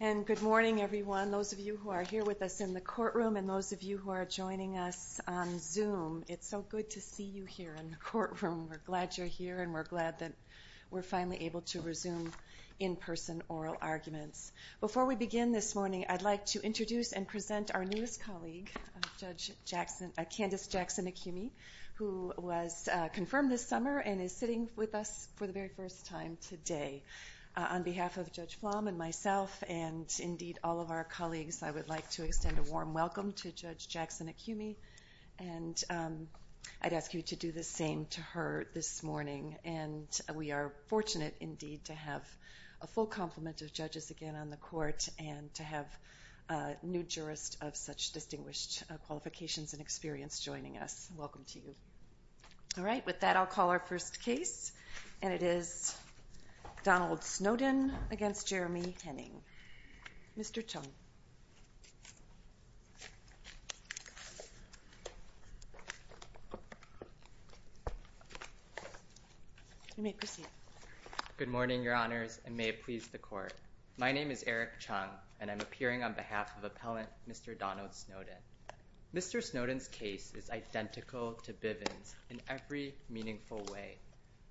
And good morning, everyone. Those of you who are here with us in the courtroom and those of you who are joining us on Zoom, it's so good to see you here in the courtroom. We're glad you're here, and we're glad that we're finally able to resume in-person oral arguments. Before we begin this morning, I'd like to introduce and present our newest colleague, Candace Jackson Acumi, who was confirmed this summer and is sitting with us for the very first time today. On behalf of Judge Flom and myself and, indeed, all of our colleagues, I would like to extend a warm welcome to Judge Jackson Acumi, and I'd ask you to do the same to her this morning. And we are fortunate, indeed, to have a full complement of judges again on the court and to have a new jurist of such distinguished qualifications and experience joining us. Welcome to you. All right. With that, I'll call our first case, and it is Donald Snowden against Jeremy Henning. Mr. Chung. You may proceed. Good morning, Your Honors, and may it please the court. My name is Eric Chung, and I'm appearing on behalf of Appellant Mr. Donald Snowden. Mr. Snowden's case is identical to Bivens' in every meaningful way.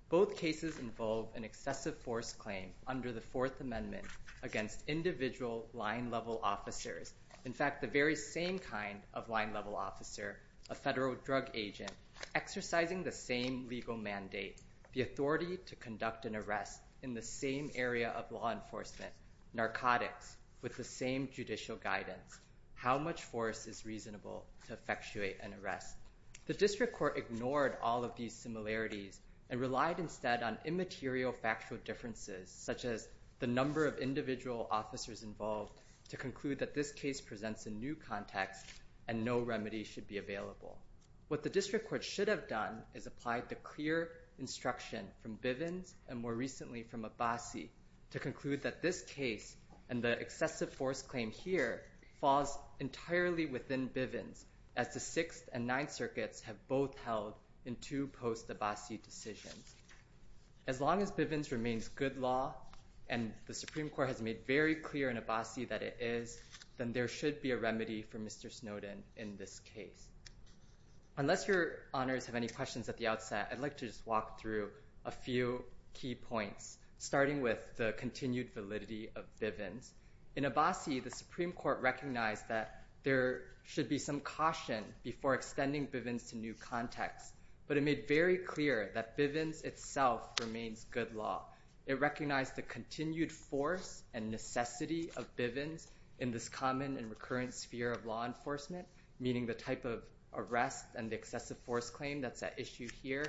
Both cases involve an excessive force claim under the Fourth Amendment against individual line level officers. In fact, the very same kind of line level officer, a federal drug agent, exercising the same legal mandate, the authority to conduct an arrest in the same area of law enforcement, narcotics with the same judicial guidance. How much force is reasonable to effectuate an arrest? The district court ignored all of these similarities and relied instead on immaterial factual differences, such as the number of individual officers involved, to conclude that this case presents a new context and no remedy should be available. What the district court should have done is applied the clear instruction from Bivens and more recently from Abbasi to conclude that this case and the excessive force claim here falls entirely within Bivens, as the Sixth and Ninth Circuits have both held in two post-Abbasi decisions. As long as Bivens remains good law and the Supreme Court has made very clear in Abbasi that it is, then there should be a remedy for Mr. Snowden in this case. Unless your honors have any questions at the outset, I'd like to just walk through a few key points, starting with the continued validity of Bivens. In Abbasi, the Supreme Court recognized that there should be some caution before extending Bivens to new context, but it made very clear that Bivens itself remains good law. It recognized the continued force and necessity of Bivens in this common and recurrent sphere of law enforcement, meaning the type of arrest and the excessive force claim that's at issue here,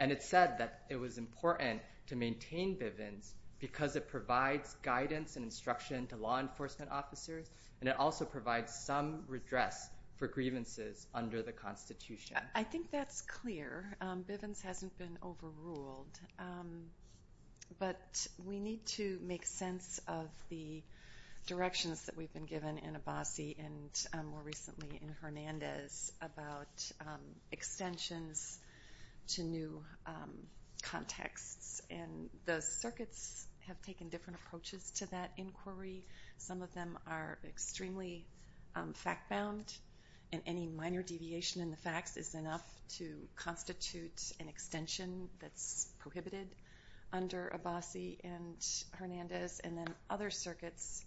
and it said that it was important to maintain Bivens because it provides guidance and instruction to law enforcement officers, and it also provides some redress for grievances under the Constitution. I think that's clear. Bivens hasn't been overruled. But we need to make sense of the directions that we've been given in Abbasi and more recently in Hernandez about extensions to new contexts. And the circuits have taken different approaches to that inquiry. Some of them are extremely fact-bound, and any minor deviation in the facts is enough to constitute an extension that's prohibited under Abbasi and Hernandez, and then other circuits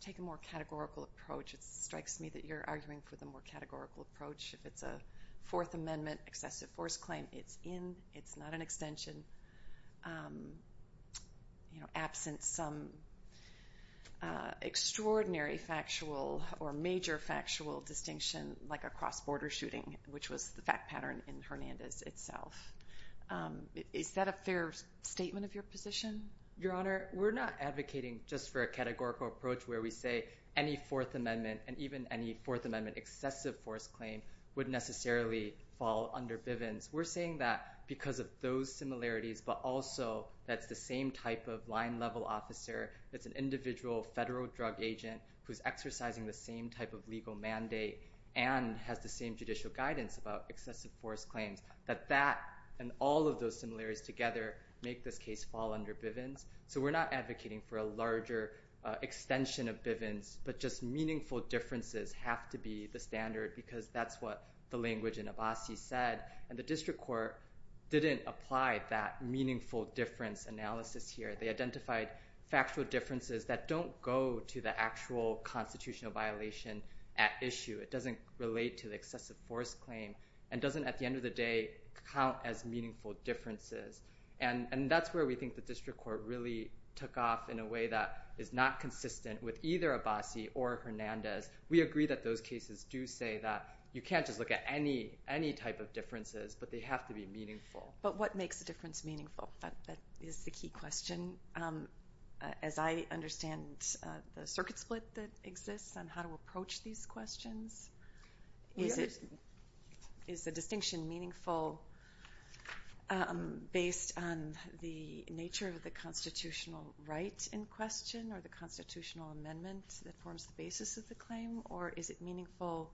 take a more categorical approach. It strikes me that you're arguing for the more categorical approach. If it's a Fourth Amendment excessive force claim, it's in, it's not an extension, you know, absent some extraordinary factual or major factual distinction, like a cross-border shooting, which was the fact pattern in Hernandez itself. Is that a fair statement of your position? Your Honor, we're not advocating just for a categorical approach where we say any Fourth Amendment and even any Fourth Amendment excessive force claim would necessarily fall under Bivens. We're saying that because of those similarities, but also that's the same type of line-level officer, that's an individual federal drug agent who's exercising the same type of legal mandate and has the same judicial guidance about excessive force claims, that that and all of those similarities together make this case fall under Bivens. So we're not advocating for a larger extension of Bivens, but just meaningful differences have to be the standard because that's what the language in Abbasi said. And the district court didn't apply that meaningful difference analysis here. They identified factual differences that don't go to the actual constitutional violation at issue. It doesn't relate to the excessive force claim and doesn't, at the end of the day, count as meaningful differences. And that's where we think the district court really took off in a way that is not consistent with either Abbasi or Hernandez. We agree that those cases do say that you can't just look at any type of differences, but they have to be meaningful. But what makes a difference meaningful? That is the key question. As I understand the circuit split that exists on how to approach these questions, is the distinction meaningful based on the nature of the constitutional right in question or the constitutional amendment that forms the basis of the claim? Or is it meaningful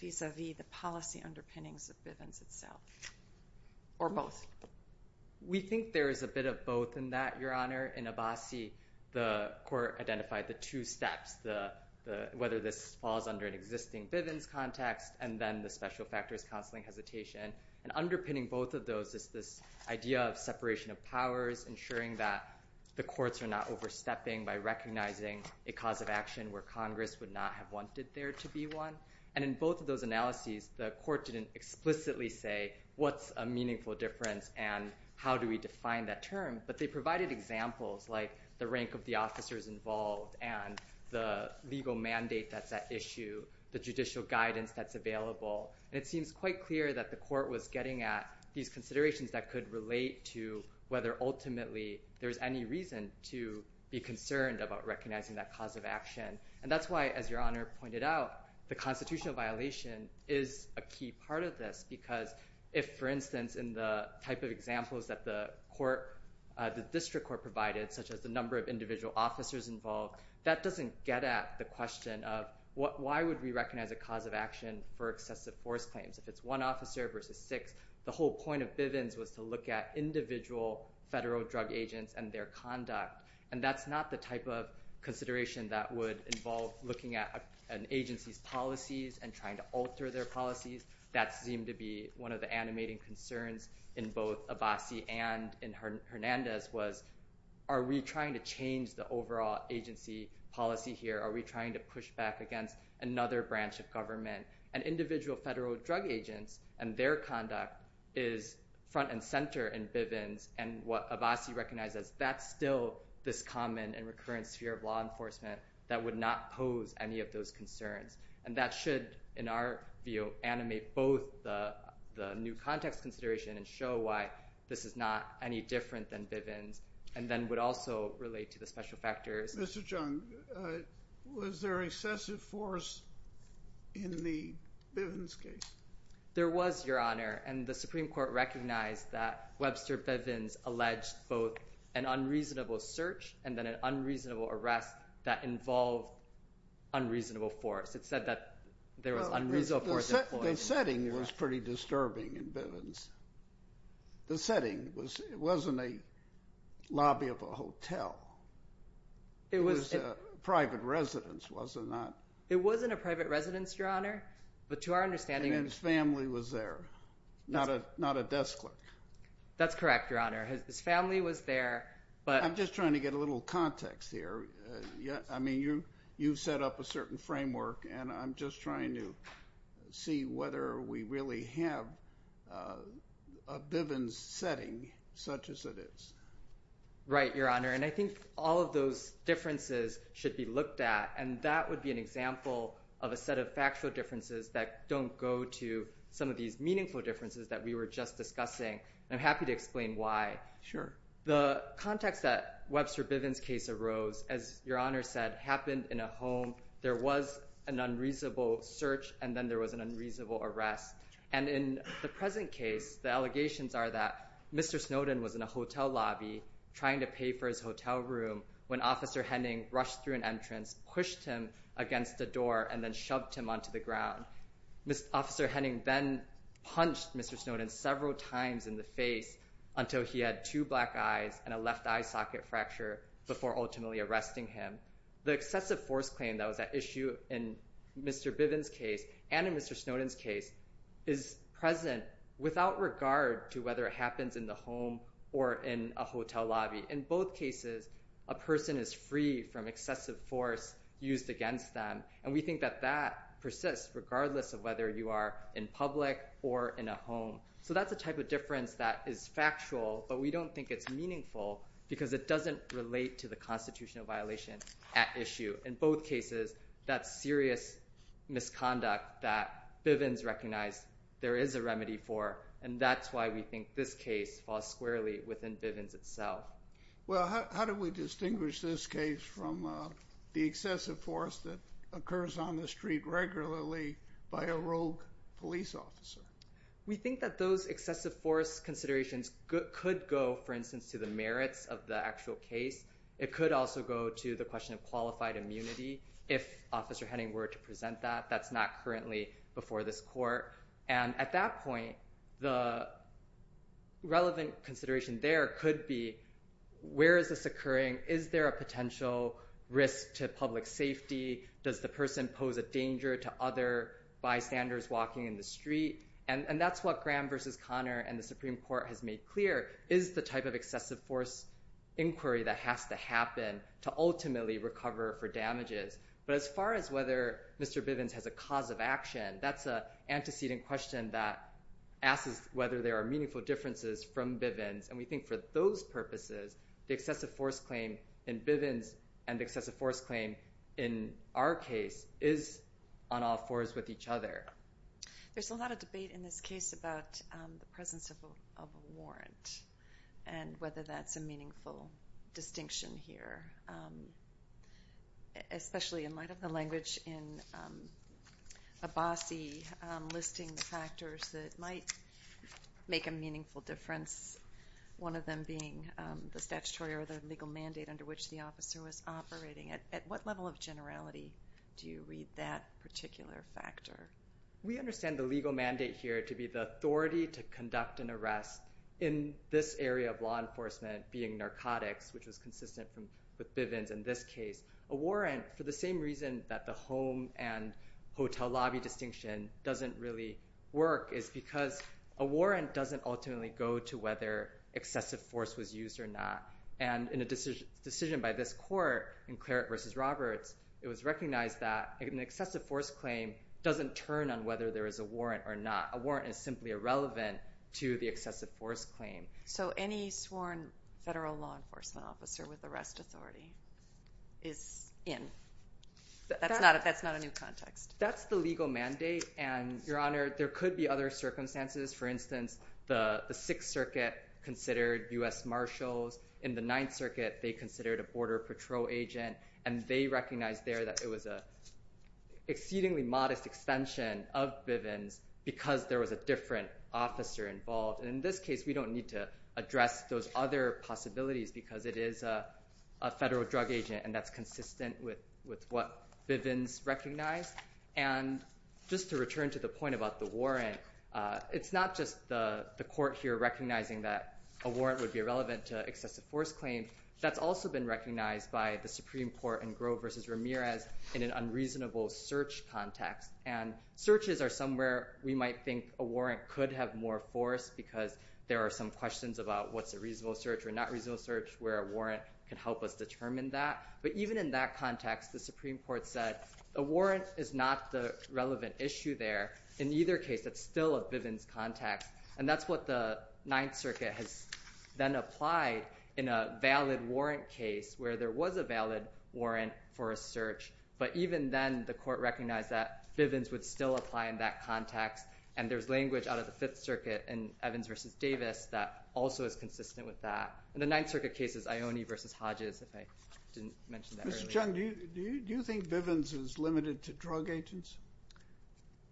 vis-a-vis the policy underpinnings of Bivens itself or both? We think there is a bit of both in that, Your Honor. In Abbasi, the court identified the two steps, whether this falls under an existing Bivens context and then the special factors counseling hesitation. And underpinning both of those is this idea of separation of powers, ensuring that the courts are not overstepping by recognizing a cause of action where Congress would not have wanted there to be one. And in both of those analyses, the court didn't explicitly say, what's a meaningful difference and how do we define that term? But they provided examples like the rank of the officers involved and the legal mandate that's at issue, the judicial guidance that's available. And it seems quite clear that could relate to whether ultimately there's any reason to be concerned about recognizing that cause of action. And that's why, as Your Honor pointed out, the constitutional violation is a key part of this because if, for instance, in the type of examples that the court, the district court provided, such as the number of individual officers involved, that doesn't get at the question of why would we recognize a cause of action for excessive force claims? If it's one officer versus six, the whole point of Bivens was to look at individual federal drug agents and their conduct. And that's not the type of consideration that would involve looking at an agency's policies and trying to alter their policies. That seemed to be one of the animating concerns in both Abbasi and in Hernandez was, are we trying to change the overall agency policy here? Are we trying to push back against another branch of government? And individual federal drug agents and their conduct is front and center in Bivens. And what Abbasi recognizes, that's still this common and recurrent sphere of law enforcement that would not pose any of those concerns. And that should, in our view, animate both the new context consideration and show why this is not any different than Bivens and then would also relate to the special factors. Mr. Chung, was there excessive force in the Bivens case? There was, Your Honor. And the Supreme Court recognized that Webster Bivens both an unreasonable search and then an unreasonable arrest that involved unreasonable force. It said that there was unreasonable force. The setting was pretty disturbing in Bivens. The setting was, it wasn't a lobby of a hotel. It was a private residence, was it not? It wasn't a private residence, Your Honor. But to our understanding- And his family was there, not a desk clerk. That's correct, Your Honor. His family was there, but- I'm just trying to get a little context here. I mean, you've set up a certain framework and I'm just trying to see whether we really have a Bivens setting such as it is. Right, Your Honor. And I think all of those differences should be looked at. And that would be an example of a set of factual differences that don't go to some of these meaningful differences that we were just discussing. And I'm happy to explain why. Sure. The context that Webster Bivens case arose, as Your Honor said, happened in a home. There was an unreasonable search and then there was an unreasonable arrest. And in the present case, the allegations are that Mr. Snowden was in a hotel lobby trying to pay for his hotel room when Officer Henning rushed through an entrance, pushed him against the door, and then shoved him onto the ground. Officer Henning then punched Mr. Snowden several times in the face until he had two black eyes and a left eye socket fracture before ultimately arresting him. The excessive force claim that was at issue in Mr. Bivens case and in Mr. Snowden's case is present without regard to whether it happens in the home or in a hotel lobby. In both cases, a person is free from excessive force used against them. And we think that that persists regardless of whether you are in public or in a home. That's a type of difference that is factual, but we don't think it's meaningful because it doesn't relate to the constitutional violation at issue. In both cases, that's serious misconduct that Bivens recognized there is a remedy for, and that's why we think this case falls squarely within Bivens itself. Well, how do we distinguish this case from the excessive force that occurs on the street regularly by a rogue police officer? We think that those excessive force considerations could go, for instance, to the merits of the actual case. It could also go to the question of qualified immunity if Officer Henning were to present that. That's not currently before this court. And at that point, the relevant consideration there could be, where is this occurring? Is there a potential risk to public safety? Does the person pose a danger to other bystanders walking in the street? And that's what Graham versus Connor and the Supreme Court has made clear is the type of excessive force inquiry that has to happen to ultimately recover for damages. But as far as whether Mr. Bivens has a cause of action, that's an antecedent question that asks whether there are meaningful differences from Bivens. And we think for those purposes, the excessive force claim in Bivens and excessive force claim in our case is on all fours with each other. There's a lot of debate in this case about the presence of a warrant and whether that's a meaningful distinction here, especially in light of the language in Abbasi listing the factors that might make a meaningful difference, one of them being the statutory or the legal mandate under which the officer was operating. At what level of generality do you read that particular factor? We understand the legal mandate here to be the authority to conduct an arrest in this area of law enforcement being narcotics, which was consistent with Bivens in this case. A warrant for the same reason that the home and hotel lobby distinction doesn't really work is because a warrant doesn't ultimately go to whether excessive force was used or not. And in a decision by this court in Claret versus Roberts, it was recognized that an excessive force claim doesn't turn on whether there is a warrant or not. A warrant is simply irrelevant to the excessive force claim. So any sworn federal law enforcement officer with arrest authority is in. That's not a new context. That's the legal mandate. And, Your Honor, there could be other circumstances. For instance, the Sixth Circuit considered U.S. Marshals. In the Ninth Circuit, they considered a Border Patrol agent and they recognized there it was an exceedingly modest extension of Bivens because there was a different officer involved. And in this case, we don't need to address those other possibilities because it is a federal drug agent and that's consistent with what Bivens recognized. And just to return to the point about the warrant, it's not just the court here recognizing that a warrant would be irrelevant to excessive force claim. That's also been recognized by the Supreme Court and Grove v. Ramirez in an unreasonable search context. And searches are somewhere we might think a warrant could have more force because there are some questions about what's a reasonable search or not reasonable search where a warrant can help us determine that. But even in that context, the Supreme Court said a warrant is not the relevant issue there. In either case, that's still a Bivens context. And that's what the Ninth Circuit has then applied in a valid warrant case where there was a valid warrant for a search. But even then, the court recognized that Bivens would still apply in that context. And there's language out of the Fifth Circuit in Evans v. Davis that also is consistent with that. And the Ninth Circuit case is Ione v. Hodges if I didn't mention that earlier. Mr. Chung, do you think Bivens is limited to drug agents?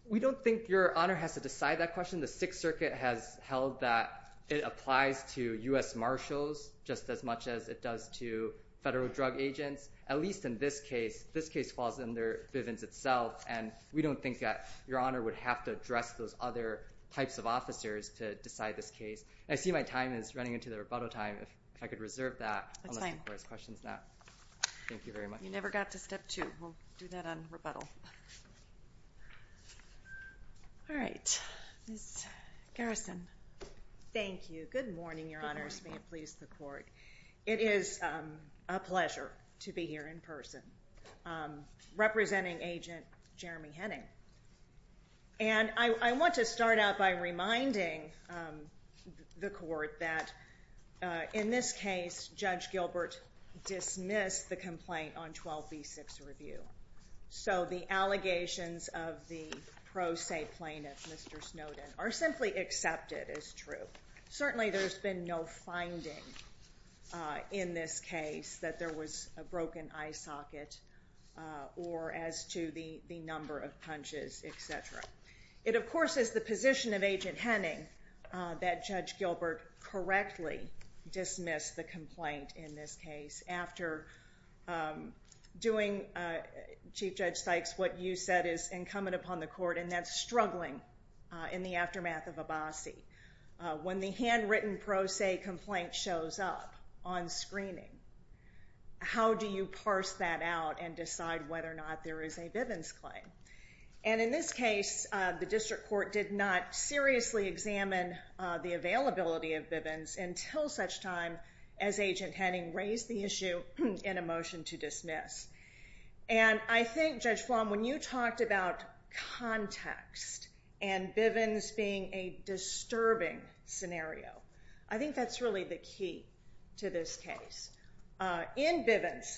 We don't think Your Honor has to decide that question. The Sixth Circuit has held that it applies to U.S. Marshals just as much as it does to federal drug agents. At least in this case, this case falls under Bivens itself. And we don't think that Your Honor would have to address those other types of officers to decide this case. I see my time is running into the rebuttal time. If I could reserve that. That's fine. Unless the court has questions now. Thank you very much. You never got to step two. We'll do that on rebuttal. All right. Ms. Garrison. Thank you. Good morning, Your Honors. May it please the court. It is a pleasure to be here in person representing Agent Jeremy Henning. And I want to start out by reminding the court that in this case, Judge Gilbert dismissed the complaint on 12b6 review. So the allegations of the pro se plaintiff, Mr. Snowden, are simply accepted as true. Certainly, there's been no finding in this case that there was a broken eye socket or as to the number of punches, etc. It, of course, is the position of Agent Henning that Judge Gilbert correctly dismissed the complaint in this case after doing, Chief Judge Sykes, what you said is incumbent upon the court, and that's struggling in the aftermath of Abbasi when the handwritten pro se complaint shows up on screening. How do you parse that out and decide whether or not there is a Bivens claim? And in this case, the district court did not seriously examine the availability of Bivens until such time as Agent Henning raised the issue in a motion to dismiss. And I think, Judge Flom, when you talked about context and Bivens being a disturbing scenario, I think that's really the key to this case. In Bivens,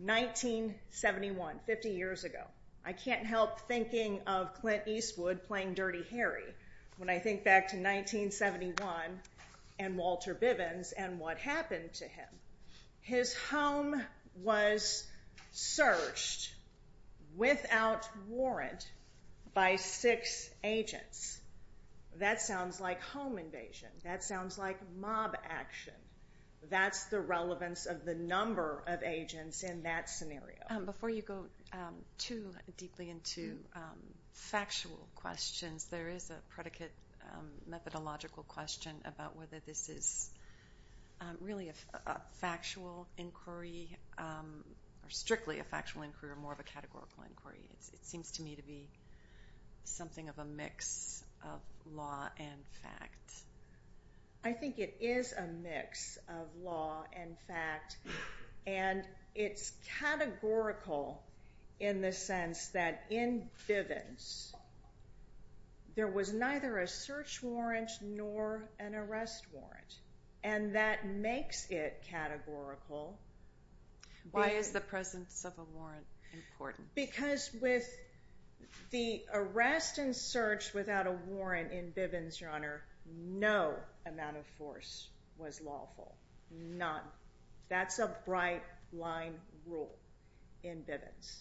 1971, 50 years ago, I can't help thinking of Clint Eastwood playing Dirty Harry when I think back to 1971 and Walter Bivens and what happened to him. His home was searched without warrant by six agents. That sounds like home invasion. That sounds like mob action. That's the relevance of the number of agents in that scenario. Before you go too deeply into factual questions, there is a predicate methodological question about whether this is really a factual inquiry or strictly a factual inquiry or more of a categorical inquiry. It seems to me to be something of a mix of law and fact. I think it is a mix of law and fact. And it's categorical in the sense that in Bivens, there was neither a search warrant nor an arrest warrant. And that makes it categorical. Why is the presence of a warrant important? Because with the arrest and search without a warrant in Bivens, Your Honor, no amount of force was lawful. None. That's a bright line rule in Bivens.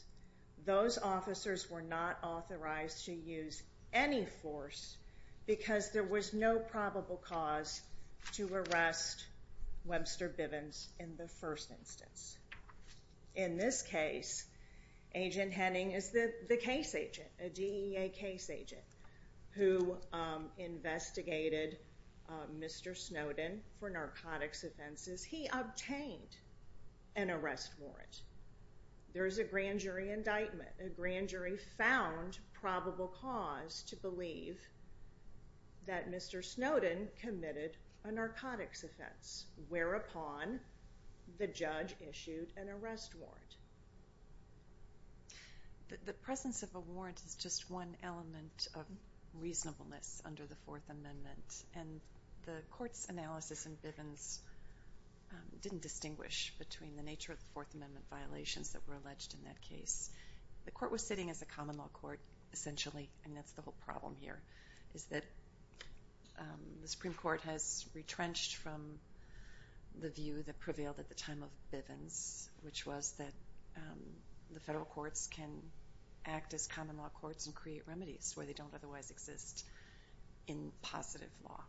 Those officers were not authorized to use any force because there was no probable cause to arrest Webster Bivens in the first instance. In this case, Agent Henning is the case agent, a DEA case agent who investigated Mr. Snowden for narcotics offenses. He obtained an arrest warrant. There is a grand jury indictment. A grand jury found probable cause to believe that Mr. Snowden committed a narcotics offense whereupon the judge issued an arrest warrant. The presence of a warrant is just one element of reasonableness under the Fourth Amendment. And the Court's analysis in Bivens didn't distinguish between the nature of the Fourth Amendment violations that were alleged in that case. The Court was sitting as a common law court, essentially, and that's the whole problem here, is that the Supreme Court has retrenched from the view that prevailed at the time of Bivens, which was that the federal courts can act as common law courts and create remedies where they don't otherwise exist in positive law,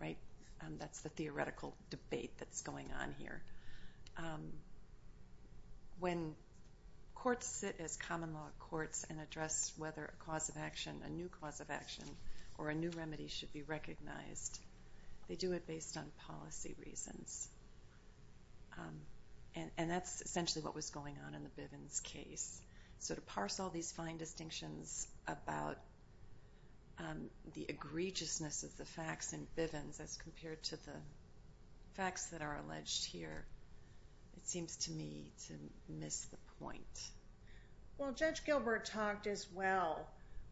right? That's the theoretical debate that's going on here. When courts sit as common law courts and address whether a cause of action, a new cause of action, or a new remedy should be recognized, they do it based on policy reasons. And that's essentially what was going on in the Bivens case. So to parse all these fine distinctions about the egregiousness of the facts in Bivens as compared to the facts that are alleged here, it seems to me to miss the point. Well, Judge Gilbert talked as well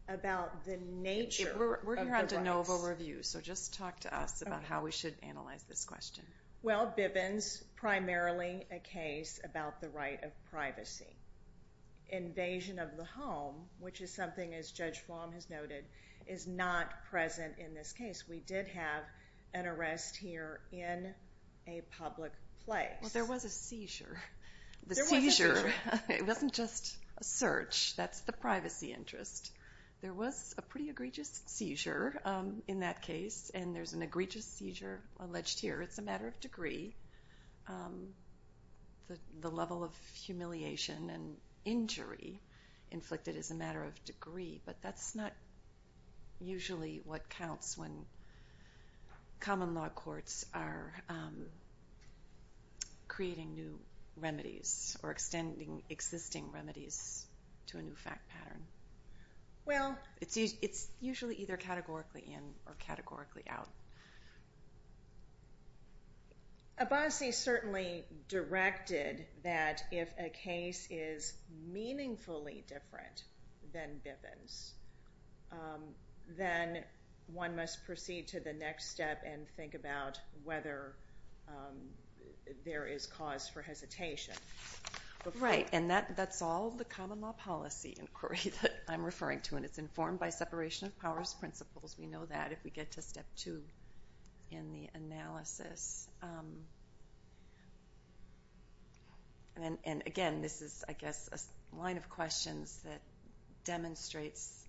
about the nature of the rights. We're here at de novo review, so just talk to us about how we should analyze this question. Well, Bivens, primarily a case about the right of privacy. Invasion of the home, which is something as Judge Flom has noted, is not present in this case. We did have an arrest here in a public place. Well, there was a seizure. The seizure, it wasn't just a search. That's the privacy interest. There was a pretty egregious seizure in that case, and there's an egregious seizure alleged here. It's a matter of degree. The level of humiliation and injury inflicted is a matter of degree, but that's not usually what counts when common law courts are creating new remedies or extending existing remedies to a new fact pattern. Well, it's usually either categorically in or categorically out. Abbasi certainly directed that if a case is meaningfully different than Bivens, then one must proceed to the next step and think about whether there is cause for hesitation. Right, and that's all the common law policy inquiry that I'm referring to, and it's informed by separation of powers principles. We know that if we get to step two in the analysis. And again, this is, I guess, a line of questions that demonstrates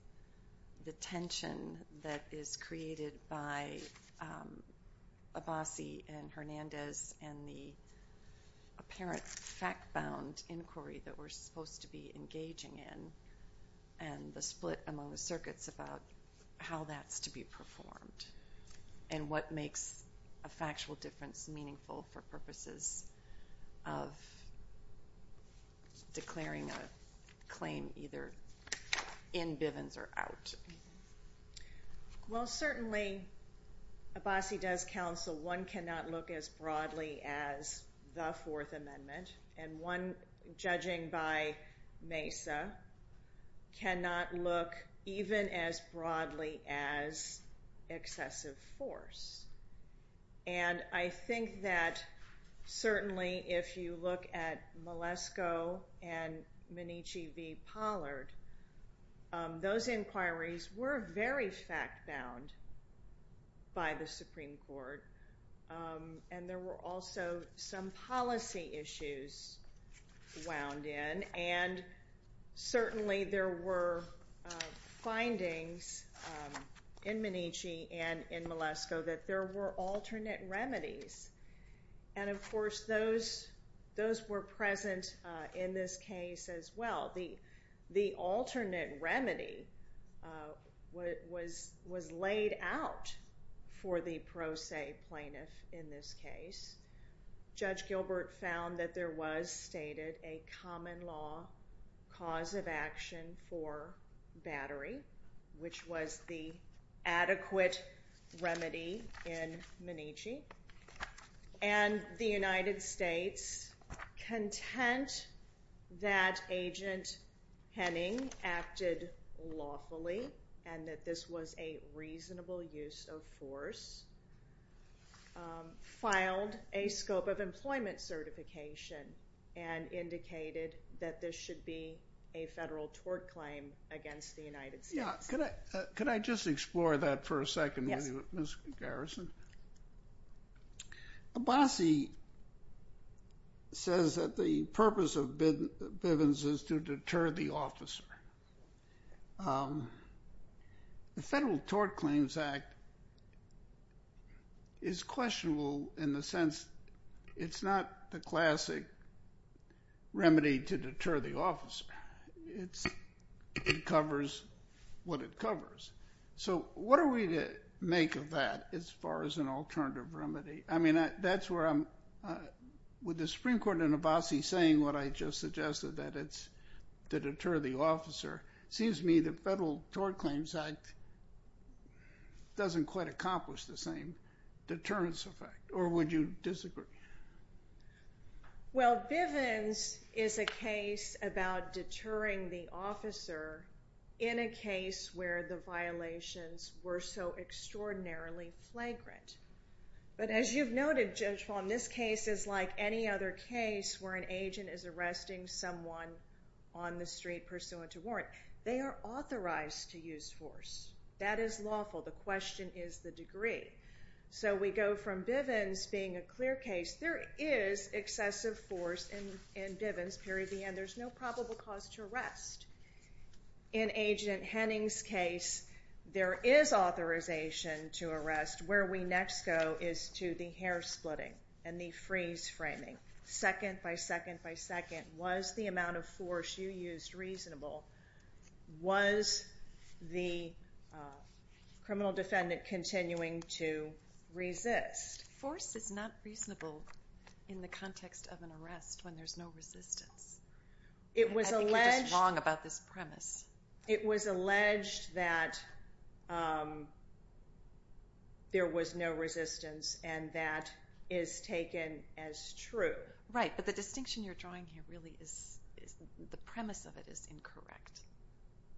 the tension that is created by Abbasi and Hernandez and the apparent fact-bound inquiry that we're supposed to be engaging in and the split among the circuits about how that's to be performed and what makes a factual difference meaningful for purposes of declaring a claim either in Bivens or out. Well, certainly, Abbasi does counsel one cannot look as broadly as the Fourth Amendment, and one, judging by Mesa, cannot look even as broadly as excessive force. And I think that certainly if you look at Malesko and Minnici v. Pollard, those inquiries were very fact-bound by the Supreme Court, and there were also some policy issues wound in. And certainly, there were findings in Minnici and in Malesko that there were alternate remedies. And of course, those were present in this case as well. The alternate remedy was laid out for the pro se plaintiff in this case. Judge Gilbert found that there was stated a common law cause of action for battery, which was the adequate remedy in Minnici. And the United States content that Agent Henning acted lawfully and that this was a reasonable use of force, filed a scope of employment certification and indicated that this should be a federal tort claim against the United States. Yeah, could I just explore that for a second, Ms. Garrison? Abbasi says that the purpose of Bivens is to deter the officer. The Federal Tort Claims Act is questionable in the sense it's not the classic remedy to deter the officer. It covers what it covers. So what are we to make of that as far as an alternative remedy? I mean, that's where I'm... With the Supreme Court and Abbasi saying what I just suggested, that it's to deter the officer, it seems to me the Federal Tort Claims Act doesn't quite accomplish the same. Deterrence effect, or would you disagree? Well, Bivens is a case about deterring the officer in a case where the violations were so extraordinarily flagrant. But as you've noted, Judge Fahm, this case is like any other case where an agent is arresting someone on the street pursuant to warrant. They are authorized to use force. That is lawful. The question is the degree. So we go from Bivens being a clear case. There is excessive force in Bivens period of the end. There's no probable cause to arrest. In Agent Henning's case, there is authorization to arrest. Where we next go is to the hair splitting and the freeze framing, second by second by second. Was the amount of force you used reasonable? Was the criminal defendant continuing to resist? Force is not reasonable in the context of an arrest when there's no resistance. It was alleged- I think you're just wrong about this premise. It was alleged that there was no resistance and that is taken as true. Right, but the distinction you're drawing here really is, the premise of it is incorrect.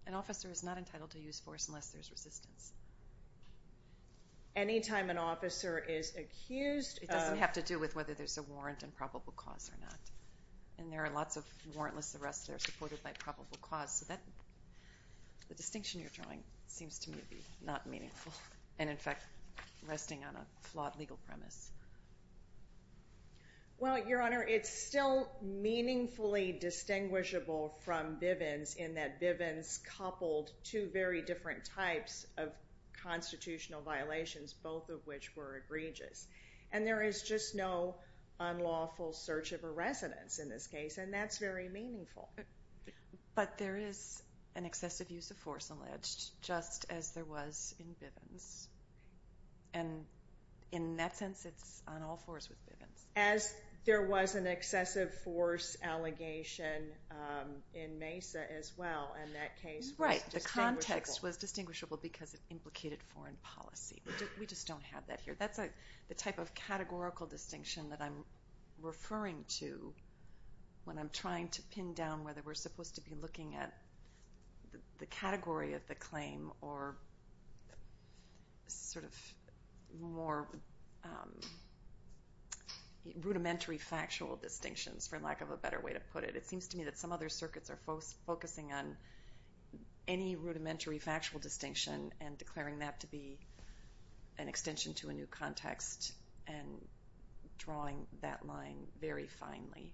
An officer is not entitled to use force unless there's resistance. Anytime an officer is accused of- It doesn't have to do with whether there's a warrant and probable cause or not. And there are lots of warrantless arrests that are supported by probable cause. So the distinction you're drawing seems to me to be not meaningful and in fact, resting on a flawed legal premise. Well, Your Honor, it's still meaningfully distinguishable from Bivens in that Bivens coupled two very different types of constitutional violations, both of which were egregious. And there is just no unlawful search of a residence in this case and that's very meaningful. But there is an excessive use of force alleged just as there was in Bivens. And in that sense, it's on all fours with Bivens. As there was an excessive force allegation in Mesa as well and that case was distinguishable. Right, the context was distinguishable because it implicated foreign policy. We just don't have that here. That's the type of categorical distinction that I'm referring to when I'm trying to pin down whether we're supposed to be looking at the category of the claim or sort of more rudimentary factual distinctions for lack of a better way to put it. It seems to me that some other circuits are focusing on any rudimentary factual distinction and declaring that to be an extension to a new context and drawing that line very finely.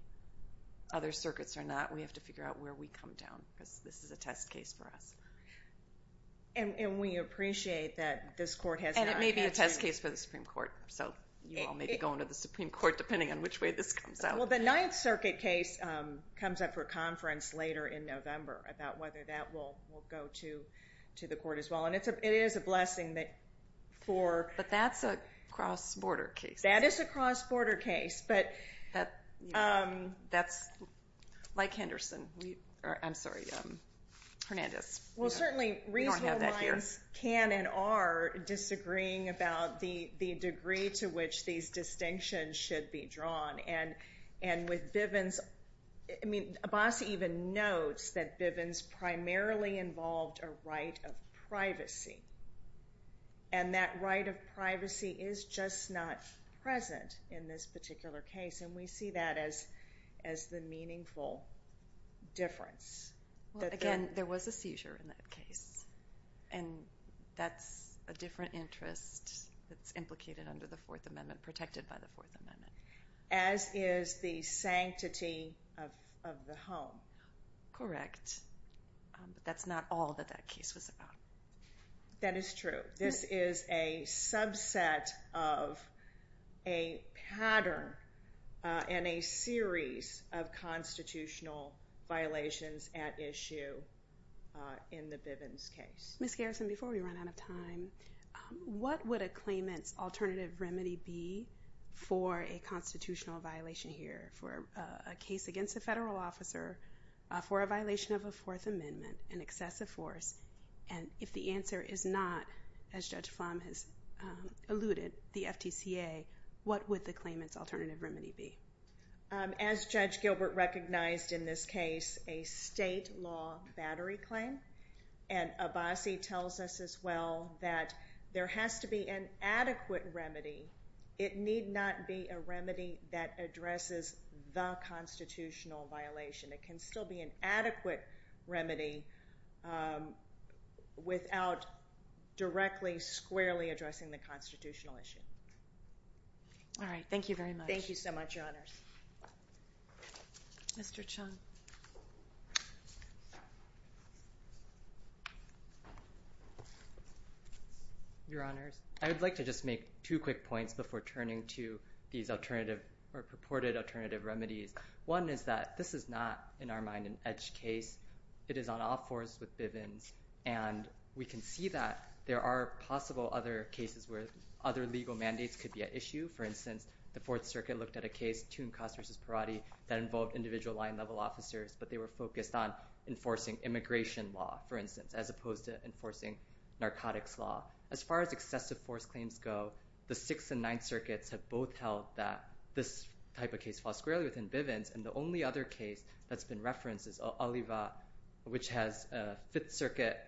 Other circuits are not. We have to figure out where we come down because this is a test case for us. And we appreciate that this court has not yet... And it may be a test case for the Supreme Court. So you all may be going to the Supreme Court depending on which way this comes out. Well, the Ninth Circuit case comes up for conference later in November about whether that will go to the court as well. And it is a blessing that for... But that's a cross-border case. That is a cross-border case. But... That's like Henderson. I'm sorry, Hernandez. Well, certainly reasonable minds can and are disagreeing about the degree to which these distinctions should be drawn. And with Bivens, I mean, Abbas even notes that Bivens primarily involved a right of privacy. And that right of privacy is just not present in this particular case. And we see that as the meaningful difference. Well, again, there was a seizure in that case. And that's a different interest that's implicated under the Fourth Amendment, protected by the Fourth Amendment. As is the sanctity of the home. Correct. But that's not all that that case was about. That is true. This is a subset of a pattern and a series of constitutional violations at issue in the Bivens case. Ms. Garrison, before we run out of time, what would a claimant's alternative remedy be for a constitutional violation here for a case against a federal officer for a violation of a Fourth Amendment, an excessive force? And if the answer is not, as Judge Flom has alluded, the FTCA, what would the claimant's alternative remedy be? As Judge Gilbert recognized in this case, a state law battery claim. And Abbasi tells us as well that there has to be an adequate remedy. It need not be a remedy that addresses the constitutional violation. It can still be an adequate remedy without directly, squarely addressing the constitutional issue. All right. Thank you very much. Thank you so much, Your Honors. Mr. Chung. Your Honors, I would like to just make two quick points before turning to these alternative or purported alternative remedies. One is that this is not, in our mind, an edge case. It is on all fours with Bivens. And we can see that there are possible other cases where other legal mandates could be at issue. For instance, the Fourth Circuit looked at a case, Toon Cost v. Perotti, that involved individual line-level officers, but they were focused on enforcing immigration law, for instance, as opposed to enforcing narcotics law. As far as excessive force claims go, the Sixth and Ninth Circuits have both held that this type of case falls squarely within Bivens. And the only other case that's been referenced is Oliva, which has a Fifth Circuit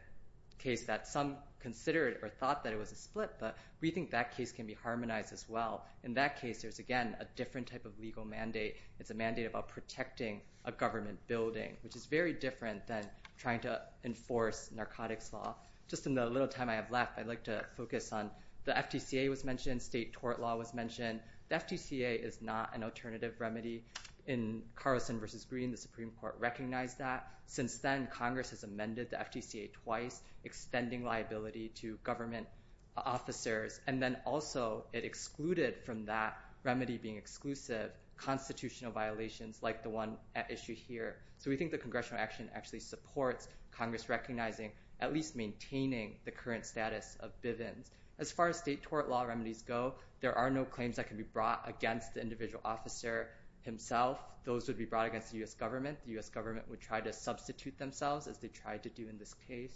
case that some considered or thought that it was a split, but we think that case can be harmonized as well. In that case, there's, again, a different type of legal mandate. It's a mandate about protecting a government building, which is very different than trying to enforce narcotics law. Just in the little time I have left, I'd like to focus on the FTCA was mentioned, state tort law was mentioned. The FTCA is not an alternative remedy. In Carlson v. Green, the Supreme Court recognized that. Since then, Congress has amended the FTCA twice, extending liability to government officers. And then also, it excluded from that remedy being exclusive constitutional violations like the one at issue here. So we think the congressional action actually supports Congress recognizing, at least maintaining, the current status of Bivens. As far as state tort law remedies go, there are no claims that can be brought against the individual officer himself. Those would be brought against the U.S. government. The U.S. government would try to substitute themselves as they tried to do in this case.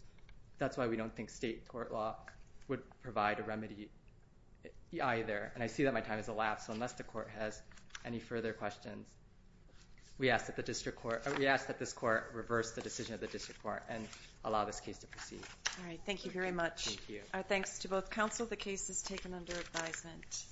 That's why we don't think state tort law would provide a remedy either. And I see that my time has elapsed. So unless the court has any further questions, we ask that the district court, we ask that this court reverse the decision of the district court and allow this case to proceed. All right, thank you very much. Thank you. Our thanks to both counsel. The case is taken under advisement.